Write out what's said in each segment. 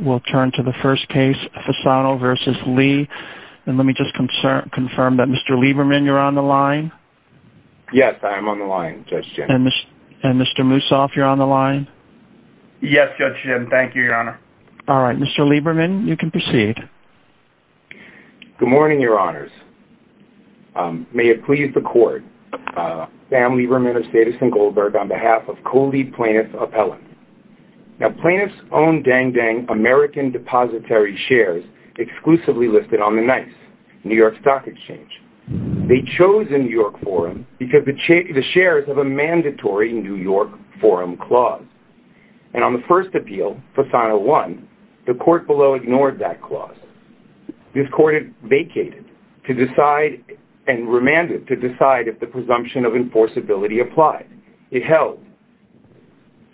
Good morning, your honors. May it please the court, Sam Lieberman of Stata St. Goldberg on behalf of co-lead plaintiff appellant. Now plaintiff's own Dang Dang American Depository shares exclusively listed on the NICE, New York Stock Exchange. They chose a New York forum because the shares have a mandatory New York forum clause. And on the first appeal, Fasano one, the court below ignored that clause. This court vacated to decide and remanded if the presumption of enforceability applied. It held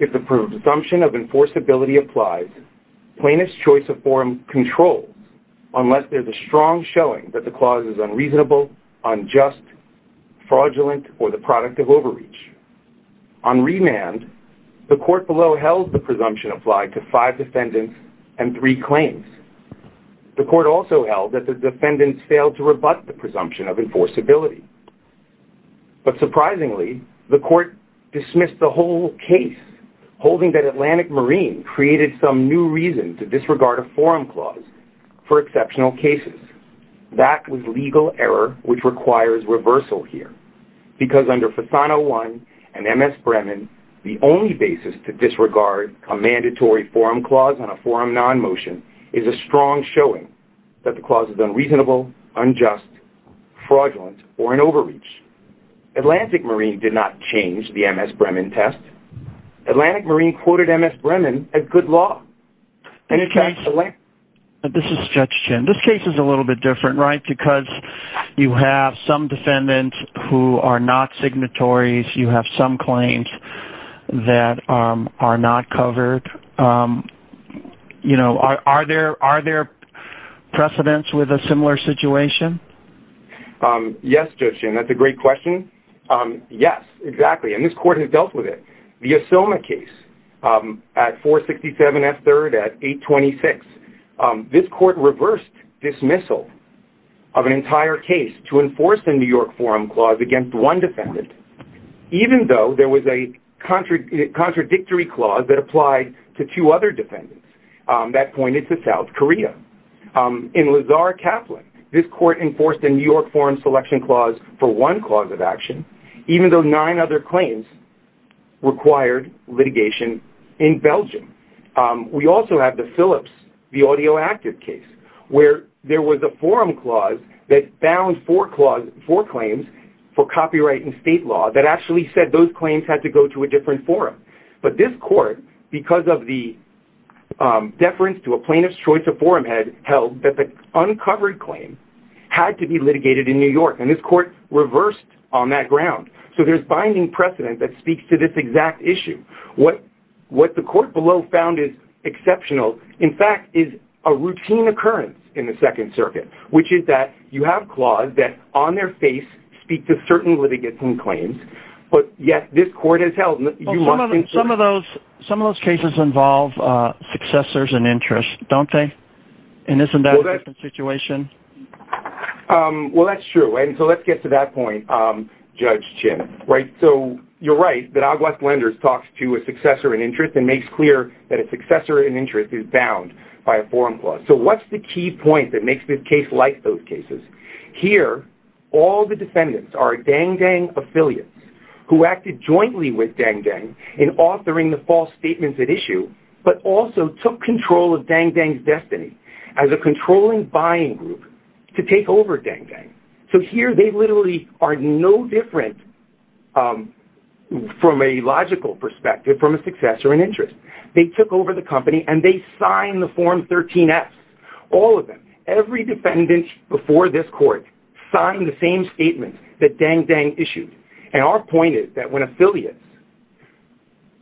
if the presumption of enforceability applies, plaintiff's choice of forum controls unless there's a strong showing that the clause is unreasonable, unjust, fraudulent, or the product of overreach. On remand, the court below held the presumption applied to five defendants and three claims. The court also held that the defendants failed to rebut the presumption of enforceability. But surprisingly, the court dismissed the whole case, holding that Atlantic Marine created some new reason to disregard a forum clause for exceptional cases. That was legal error, which requires reversal here. Because under Fasano one and MS Bremen, the only basis to disregard a mandatory forum clause on a forum non-motion is a strong showing that the clause is unreasonable, unjust, fraudulent, or an overreach. Atlantic Marine did not change the MS Bremen test. Atlantic Marine quoted MS Bremen as good law. And it can't select. This is Judge Chin. This case is a little bit different, right? Because you have some defendants who are not signatories. You have some claims that are not covered. You know, are there precedents with a similar situation? Yes, Judge Chin. That's a great question. Yes, exactly. And this court has dealt with it. The Asilma case at 467 F3rd at 826. This court reversed dismissal of an entire case to enforce a New York forum clause against one defendant, even though there was a contradictory clause that applied to two other defendants that pointed to South Korea. In Lazar Kaplan, this court enforced a New York forum selection clause for one cause of action, even though nine other claims required litigation in Belgium. We also have the Phillips, the audio active case, where there was a forum clause that found four claims for copyright and state law that actually said those claims had to go to a different forum. But this court, because of the deference to a plaintiff's choice of forum head, held that the uncovered claim had to be litigated in New York. And this court reversed on that ground. So there's binding precedent that speaks to this exact issue. What the court below found is exceptional, in fact, is a routine occurrence in the Second Circuit, which is that you have clause that on their face speak to certain litigating claims, but yet this court has held... Some of those cases involve successors and interest, don't they? And isn't that a different situation? Well, that's true. And so let's get to that point, Judge Chin, right? So you're right that Cogwash Lenders talks to a successor in interest and makes clear that a successor in interest is bound by a forum clause. So what's the key point that makes this case like those cases? Here, all the defendants are Dang Dang affiliates who acted jointly with Dang Dang in authoring the false statements at issue, but also took control of Dang Dang's destiny as a controlling buying group to take over Dang Dang. So here they literally are no different from a logical perspective from a successor in interest. They took over the company and they signed the Form 13-S. All of them, every defendant before this court signed the same statement that Dang Dang issued. And our point is that when affiliates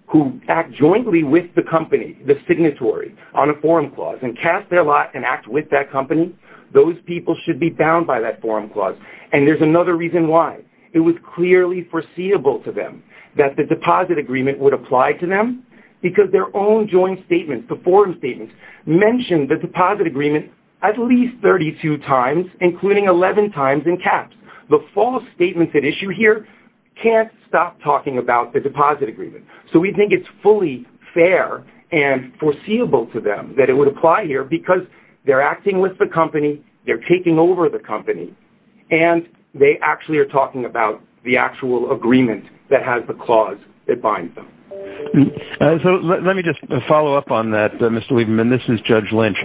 who act jointly with the company, the signatory, on a forum clause and pass their lot and act with that company, those people should be bound by that forum clause. And there's another reason why. It was clearly foreseeable to them that the deposit agreement would apply to them because their own joint statements, the forum statements, mentioned the deposit agreement at least 32 times, including 11 times in caps. The false statements at issue here can't stop talking about the deposit agreement. So we think it's fully fair and foreseeable to them that it would apply here because they're acting with the company, they're taking over the company, and they actually are talking about the actual agreement that has the clause that binds them. So let me just follow up on that, Mr. Lieberman. This is Judge Lynch.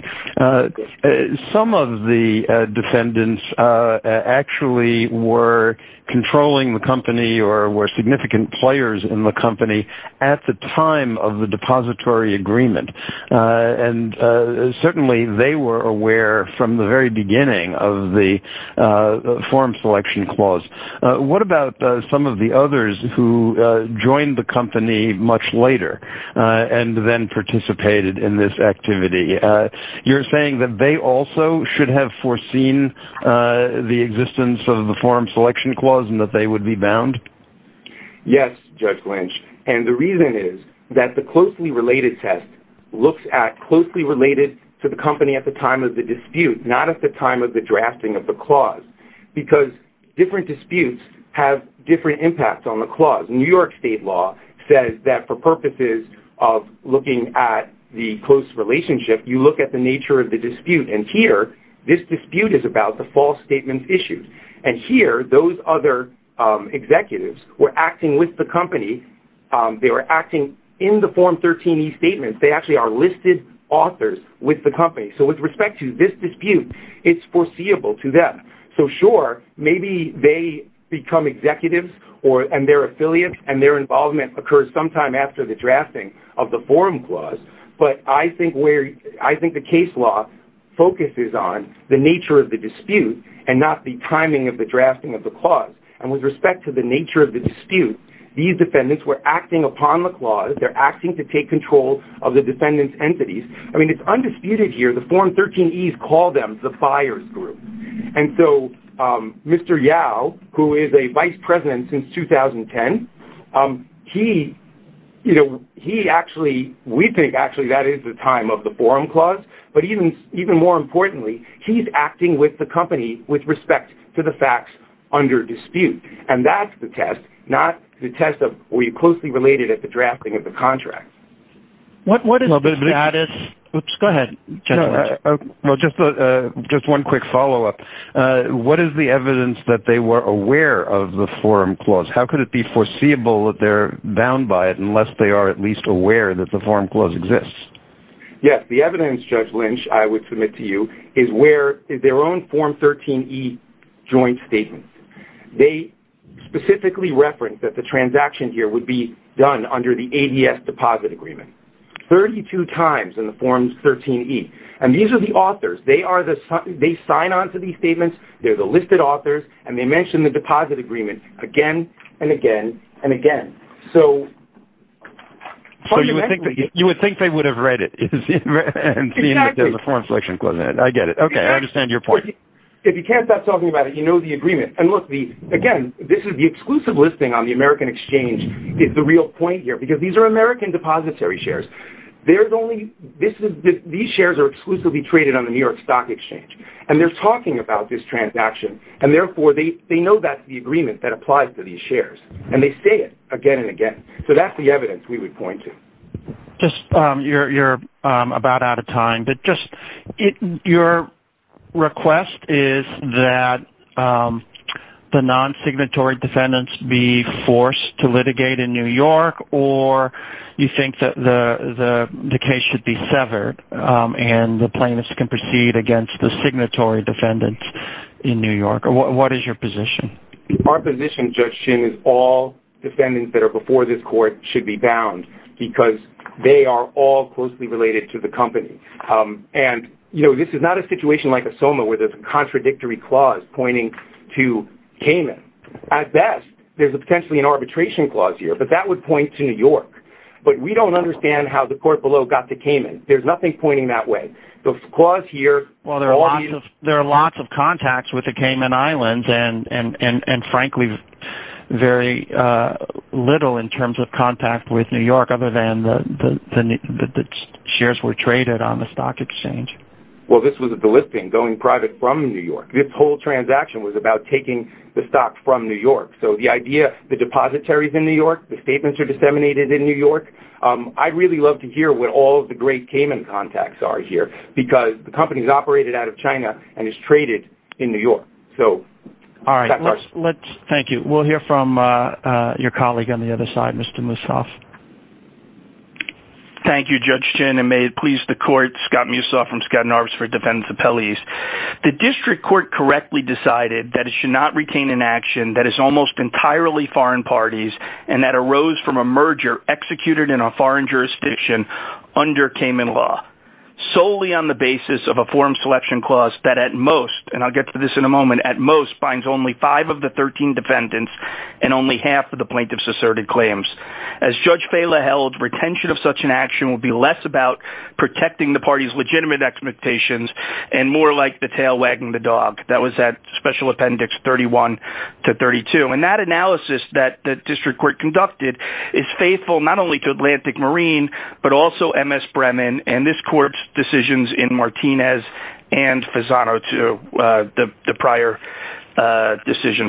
Some of the defendants actually were controlling the company or were significant players in the company at the time of the depository agreement. And certainly they were aware from the very beginning of the forum selection clause. What about some of the others who joined the company much later and then participated in this activity? You're saying that they also should have foreseen the existence of the forum selection clause and that they would be bound? Yes, Judge Lynch. And the reason is that the closely related test looks at closely related to the company at the time of the dispute, not at the time of the drafting of the clause, because different disputes have different impacts on the clause. New York state law says that for purposes of looking at the close relationship, you look at the nature of the acting with the company. They were acting in the Form 13e statement. They actually are listed authors with the company. So with respect to this dispute, it's foreseeable to them. So sure, maybe they become executives and their affiliates and their involvement occurs sometime after the drafting of the forum clause. But I think the case law focuses on the nature of the dispute and not the timing of the drafting of the clause. And with respect to the nature of the dispute, these defendants were acting upon the clause. They're acting to take control of the defendant's entities. I mean, it's undisputed here. The Form 13e's call them the FIERS group. And so Mr. Yao, who is a vice president since 2010, we think actually that is the time of the forum clause. But even more importantly, he's acting with the company with respect to the facts under dispute. And that's the test, not the test of, were you closely related at the drafting of the contract? What is the status? Oops, go ahead. Well, just one quick follow-up. What is the evidence that they were aware of the forum clause? How could it be foreseeable that they're bound by it unless they are at least aware that the forum clause exists? Yes, the evidence, Judge Lynch, I would to you is where is their own Form 13e joint statement. They specifically referenced that the transaction here would be done under the ADS deposit agreement. 32 times in the Form 13e. And these are the authors. They sign on to these statements. They're the listed authors. And they mentioned the deposit agreement again and again and again. So fundamentally- I get it. Okay, I understand your point. If you can't stop talking about it, you know the agreement. And look, again, this is the exclusive listing on the American Exchange is the real point here because these are American depository shares. These shares are exclusively traded on the New York Stock Exchange. And they're talking about this transaction. And therefore, they know that's the agreement that applies to these shares. And they say it again and again. So that's the Your request is that the non-signatory defendants be forced to litigate in New York? Or you think that the case should be severed and the plaintiffs can proceed against the signatory defendants in New York? What is your position? Our position, Judge Shin, is all defendants that are before this court should be bound because they are all closely related to the company. And, you know, this is not a situation like a SOMA where there's a contradictory clause pointing to Cayman. At best, there's potentially an arbitration clause here, but that would point to New York. But we don't understand how the court below got to Cayman. There's nothing pointing that way. The clause here- Well, there are lots of contacts with the Cayman Islands and frankly, very little in terms of contact with New York other than that the shares were traded on the stock exchange. Well, this was the listing going private from New York. This whole transaction was about taking the stock from New York. So the idea, the depositories in New York, the statements are disseminated in New York. I'd really love to hear what all of the great Cayman contacts are here because the company is operated out of China and is traded in New York. So- All right. Thank you. We'll hear from your colleague on the other side, Mr. Mussoff. Thank you, Judge Chin. And may it please the court, Scott Mussoff from Skadden Arbors for Defendants Appellees. The district court correctly decided that it should not retain an action that is almost entirely foreign parties and that arose from a merger executed in a foreign jurisdiction under Cayman law solely on the basis of a form selection clause that at most, and I'll get to this in a moment, at most binds only five of the 13 defendants and only half of the plaintiffs asserted claims. As Judge Fela held retention of such an action would be less about protecting the party's legitimate expectations and more like the tail wagging the dog. That was that special appendix 31 to 32. And that analysis that the district court conducted is faithful not only to Atlantic Marine, but also MS Bremen and this prior decision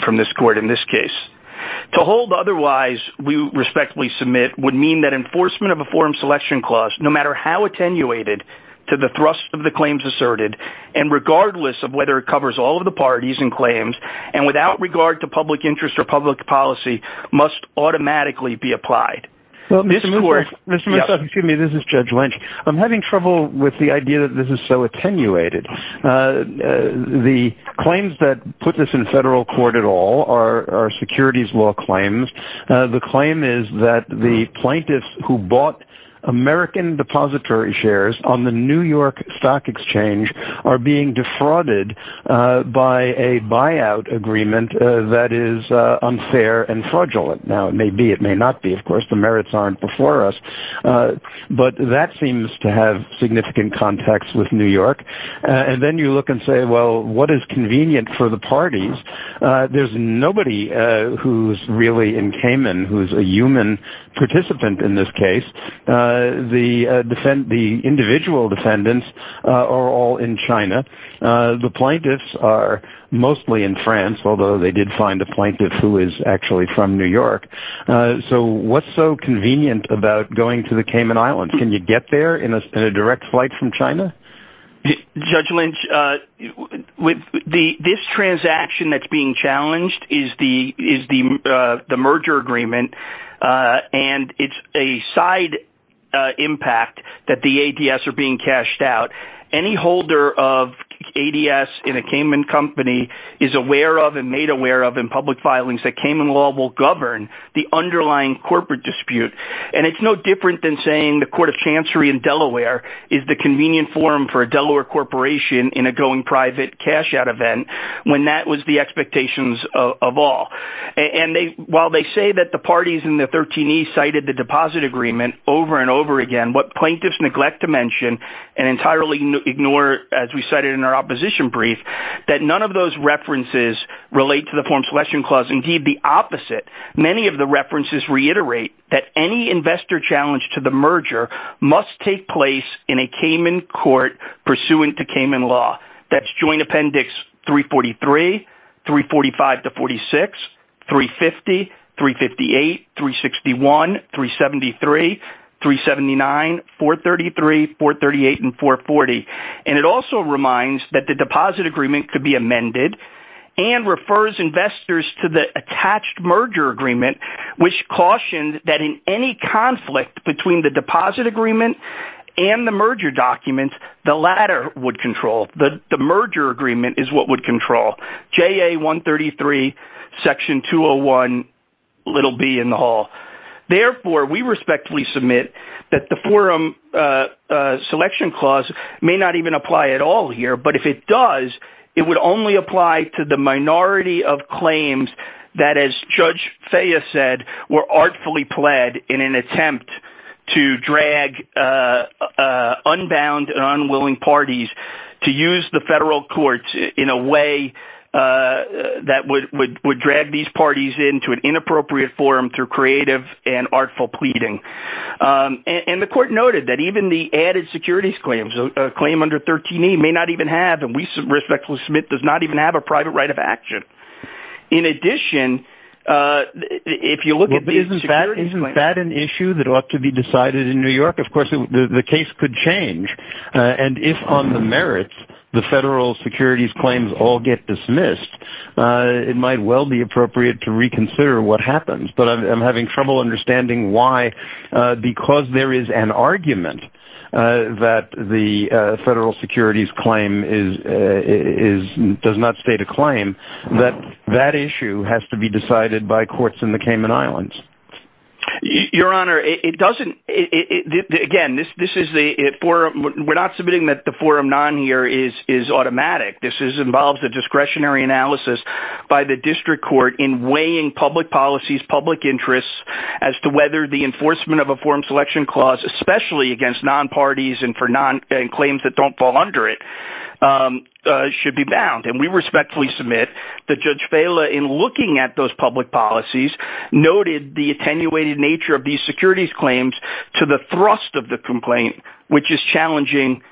from this court in this case. To hold otherwise we respectfully submit would mean that enforcement of a form selection clause, no matter how attenuated to the thrust of the claims asserted and regardless of whether it covers all of the parties and claims and without regard to public interest or public policy must automatically be applied. Well, Mr. Mussoff, excuse me, this is so attenuated. The claims that put this in federal court at all are securities law claims. The claim is that the plaintiffs who bought American depository shares on the New York Stock Exchange are being defrauded by a buyout agreement that is unfair and fraudulent. Now, it may be, it may not be, of course, the merits aren't before us, but that seems to have significant contacts with New York. And then you look and say, well, what is convenient for the parties? There's nobody who's really in Cayman who's a human participant in this case. The defend, the individual defendants are all in China. The plaintiffs are mostly in France, although they did find a plaintiff who is actually from New York. So what's so convenient about going to Cayman Islands? Can you get there in a direct flight from China? Judge Lynch, this transaction that's being challenged is the merger agreement and it's a side impact that the ADS are being cashed out. Any holder of ADS in a Cayman company is aware of and made aware of in public filings that Cayman law will govern the underlying corporate dispute. And it's no different than saying the court of chancery in Delaware is the convenient form for a Delaware corporation in a going private cash out event when that was the expectations of all. And while they say that the parties in the 13E cited the deposit agreement over and over again, what plaintiffs neglect to mention and entirely ignore, as we cited in our opposition brief, that none of those references relate to the form selection clause, indeed the opposite. Many of the references reiterate that any investor challenge to the merger must take place in a Cayman court pursuant to Cayman law. That's joint appendix 343, 345 to 46, 350, 358, 361, 373, 379, 433, 438 and 440. And it also reminds that the deposit agreement could be amended and refers investors to the attached merger agreement, which cautioned that in any conflict between the deposit agreement and the merger document, the latter would control. The merger agreement is what would control. JA 133, section 201, little b in the hall. Therefore, we respectfully submit that the forum selection clause may not even apply at all here. But if it does, it would only apply to the minority of claims that, as Judge Fea said, were artfully pled in an attempt to drag unbound and unwilling parties to use the federal courts in a way that would drag these parties into an inappropriate forum through creative and artful pleading. And the court noted that even the added securities claims, a claim under 13E may not even have, respectfully submit, does not even have a private right of action. In addition, if you look at the security, isn't that an issue that ought to be decided in New York? Of course, the case could change. And if on the merits, the federal securities claims all get dismissed, it might well be appropriate to reconsider what happens. But I'm having trouble understanding why, because there is an argument that the federal securities claim does not state a claim that that issue has to be decided by courts in the Cayman Islands. Your Honor, it doesn't. Again, this is the forum. We're not submitting that the forum non here is automatic. This involves a discretionary analysis by the district court in weighing public policies, public interests as to whether the enforcement of a forum selection clause, especially against non parties and for non claims that don't fall under it, should be bound. And we respectfully submit that Judge Vela in looking at those public policies noted the attenuated nature of these securities claims to the thrust of the complaint, which is challenging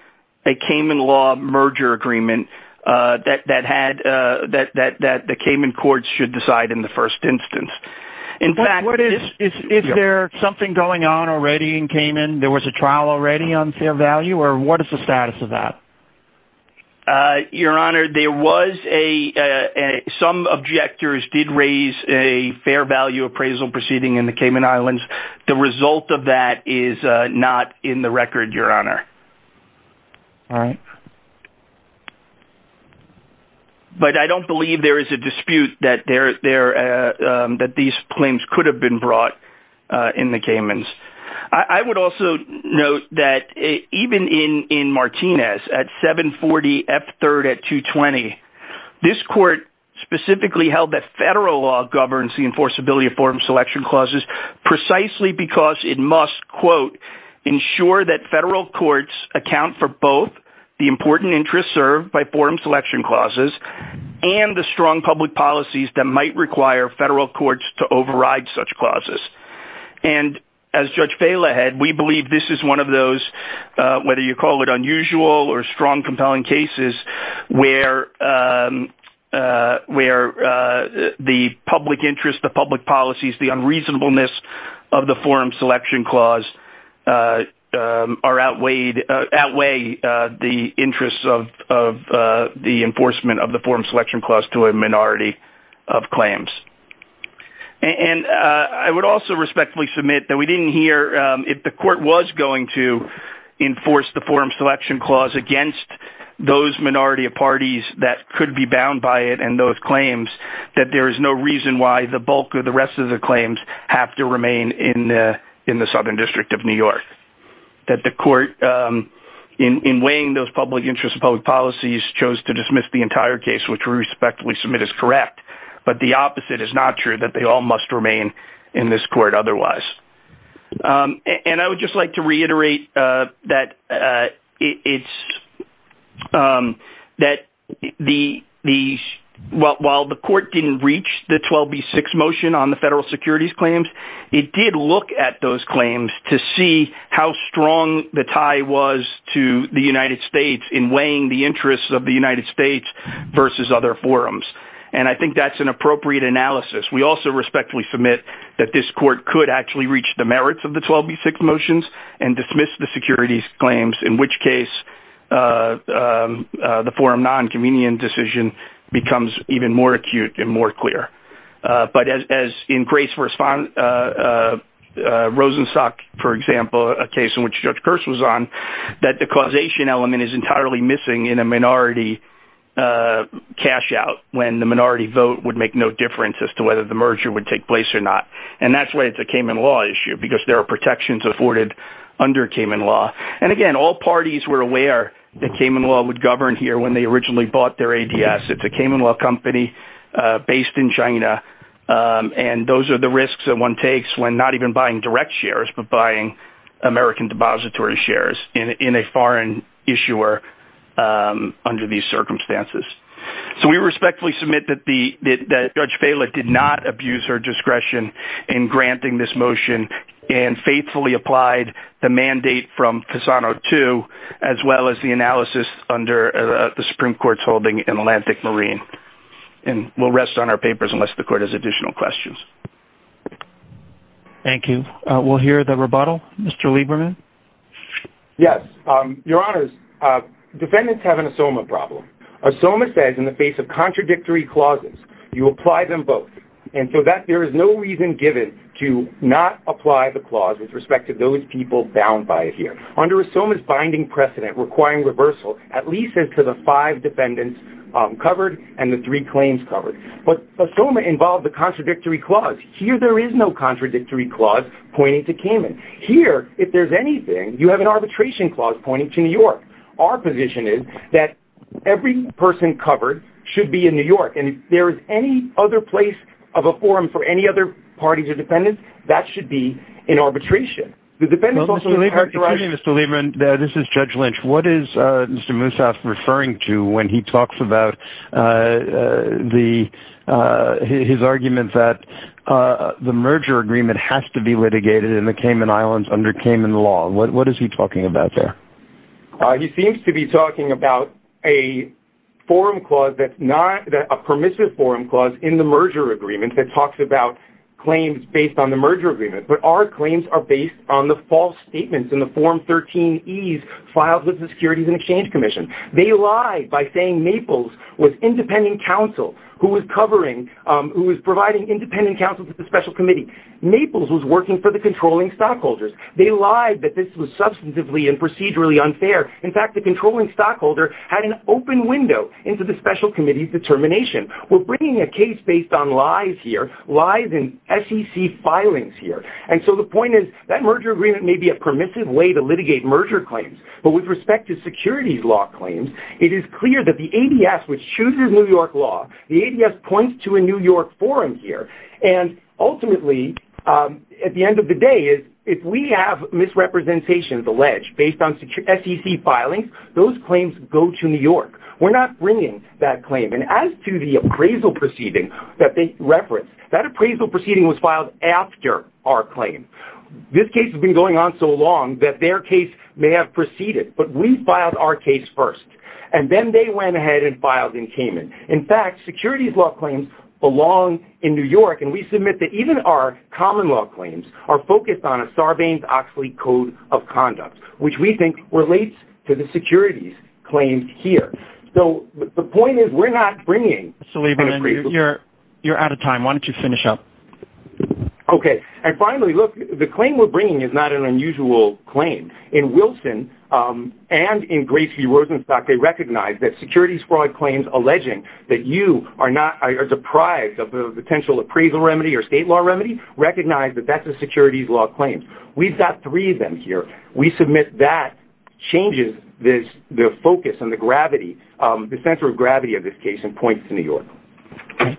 a Cayman law merger agreement that the Cayman courts should decide in the first instance. In fact, is there something going on already in Cayman? There was a trial already on fair value or what is the status of that? Your Honor, some objectors did raise a fair value appraisal proceeding in the Cayman Islands. The result of that is not in the record, Your Honor. All right. But I don't believe there is a dispute that these claims could have been brought in the Caymans. I would also note that even in Martinez at 740 F3rd at 220, this court specifically held that federal law governs the enforceability of forum selection clauses precisely because it must, quote, ensure that federal courts account for both the important interest served by forum selection clauses and the strong public policies that might require federal courts to override such clauses. And as Judge Vela had, we believe this is one of those, whether you call it unusual or strong, compelling cases where the public interest, the public policies, the unreasonableness of the forum selection clause outweigh the interests of the enforcement of the forum selection clause to a minority of claims. And I would also respectfully submit that we didn't hear if the court was going to enforce the forum selection clause against those minority of parties that could be bound by it and those the rest of the claims have to remain in the Southern District of New York. That the court, in weighing those public interests and public policies, chose to dismiss the entire case, which we respectfully submit is correct, but the opposite is not true, that they all must remain in this court otherwise. And I would just like to reiterate that while the court didn't reach the 12B6 motion on the federal securities claims, it did look at those claims to see how strong the tie was to the United States in weighing the interests of the United States versus other forums. And I think that's an appropriate analysis. We also respectfully submit that this court could actually reach the merits of the 12B6 motions and dismiss the securities claims, in which case the forum non-convenient decision becomes even more acute and more clear. But as in Grace v. Rosenstock, for example, a case in which Judge Kearse was on, that the causation element is entirely missing in a minority cash out when the minority vote would make no difference as to whether the merger would take place or not. And that's why it's a Cayman law issue because there are protections afforded under Cayman law. And again, all parties were aware that Cayman law would govern here when they originally bought their ADS. It's a Cayman law company based in China. And those are the risks that one takes when not even buying direct shares, but buying American depository shares in a foreign issuer under these circumstances. So we respectfully submit that Judge Faila did not abuse her discretion in granting this motion and faithfully applied the mandate from Fasano II, as well as the analysis under the Supreme Court's holding in Atlantic Marine. And we'll rest on our papers unless the Court has additional questions. Thank you. We'll hear the rebuttal. Mr. Lieberman? Yes. Your Honors, defendants have an SOMA problem. A SOMA says in the face of contradictory clauses, you apply them both. And so there is no reason given to not apply the clause with respect to those people bound by it here. Under a SOMA's binding precedent requiring reversal, at least as to the five defendants covered and the three claims covered. But the SOMA involved the contradictory clause. Here, there is no contradictory clause pointing to Cayman. Here, if there's anything, you have an arbitration clause pointing to New York. Our position is that every person covered should be in New York. And if there is any other place of a forum for any other parties or defendants, that should be in arbitration. The defendants also- Excuse me, Mr. Lieberman. This is Judge Lynch. What is Mr. Musaf referring to when he talks about his argument that the merger agreement has to be litigated in the Cayman Islands under Cayman law? What is he talking about there? He seems to be talking about a forum clause that's not- a permissive forum clause in the merger agreement that talks about claims based on the merger agreement. But our claims are based on the false statements in the 2013 E's filed with the Securities and Exchange Commission. They lied by saying Naples was independent counsel who was covering- who was providing independent counsel to the special committee. Naples was working for the controlling stockholders. They lied that this was substantively and procedurally unfair. In fact, the controlling stockholder had an open window into the special committee's determination. We're bringing a case based on lies here, lies in SEC filings here. And so the point is that merger agreement may be a permissive way to litigate merger claims. But with respect to securities law claims, it is clear that the ADS, which chooses New York law, the ADS points to a New York forum here. And ultimately, at the end of the day, if we have misrepresentations alleged based on SEC filings, those claims go to New York. We're not bringing that claim. And as to the appraisal proceeding that they referenced, that appraisal proceeding was filed after our claim. This case has been going on so long that their case may have preceded, but we filed our case first. And then they went ahead and filed in Cayman. In fact, securities law claims belong in New York. And we submit that even our common law claims are focused on a Sarbanes-Oxley code of conduct, which we think relates to the securities claims here. So the point is we're not bringing- You're out of time. Why don't you finish up? Okay. And finally, look, the claim we're bringing is not an unusual claim. In Wilson and in Grace v. Rosenstock, they recognize that securities fraud claims alleging that you are deprived of a potential appraisal remedy or state law remedy, recognize that that's a securities law claim. We've got three of them here. We submit that changes the focus and the gravity, the center of gravity of this case and points to New York.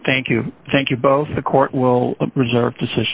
Thank you. Thank you both. The court will reserve decision.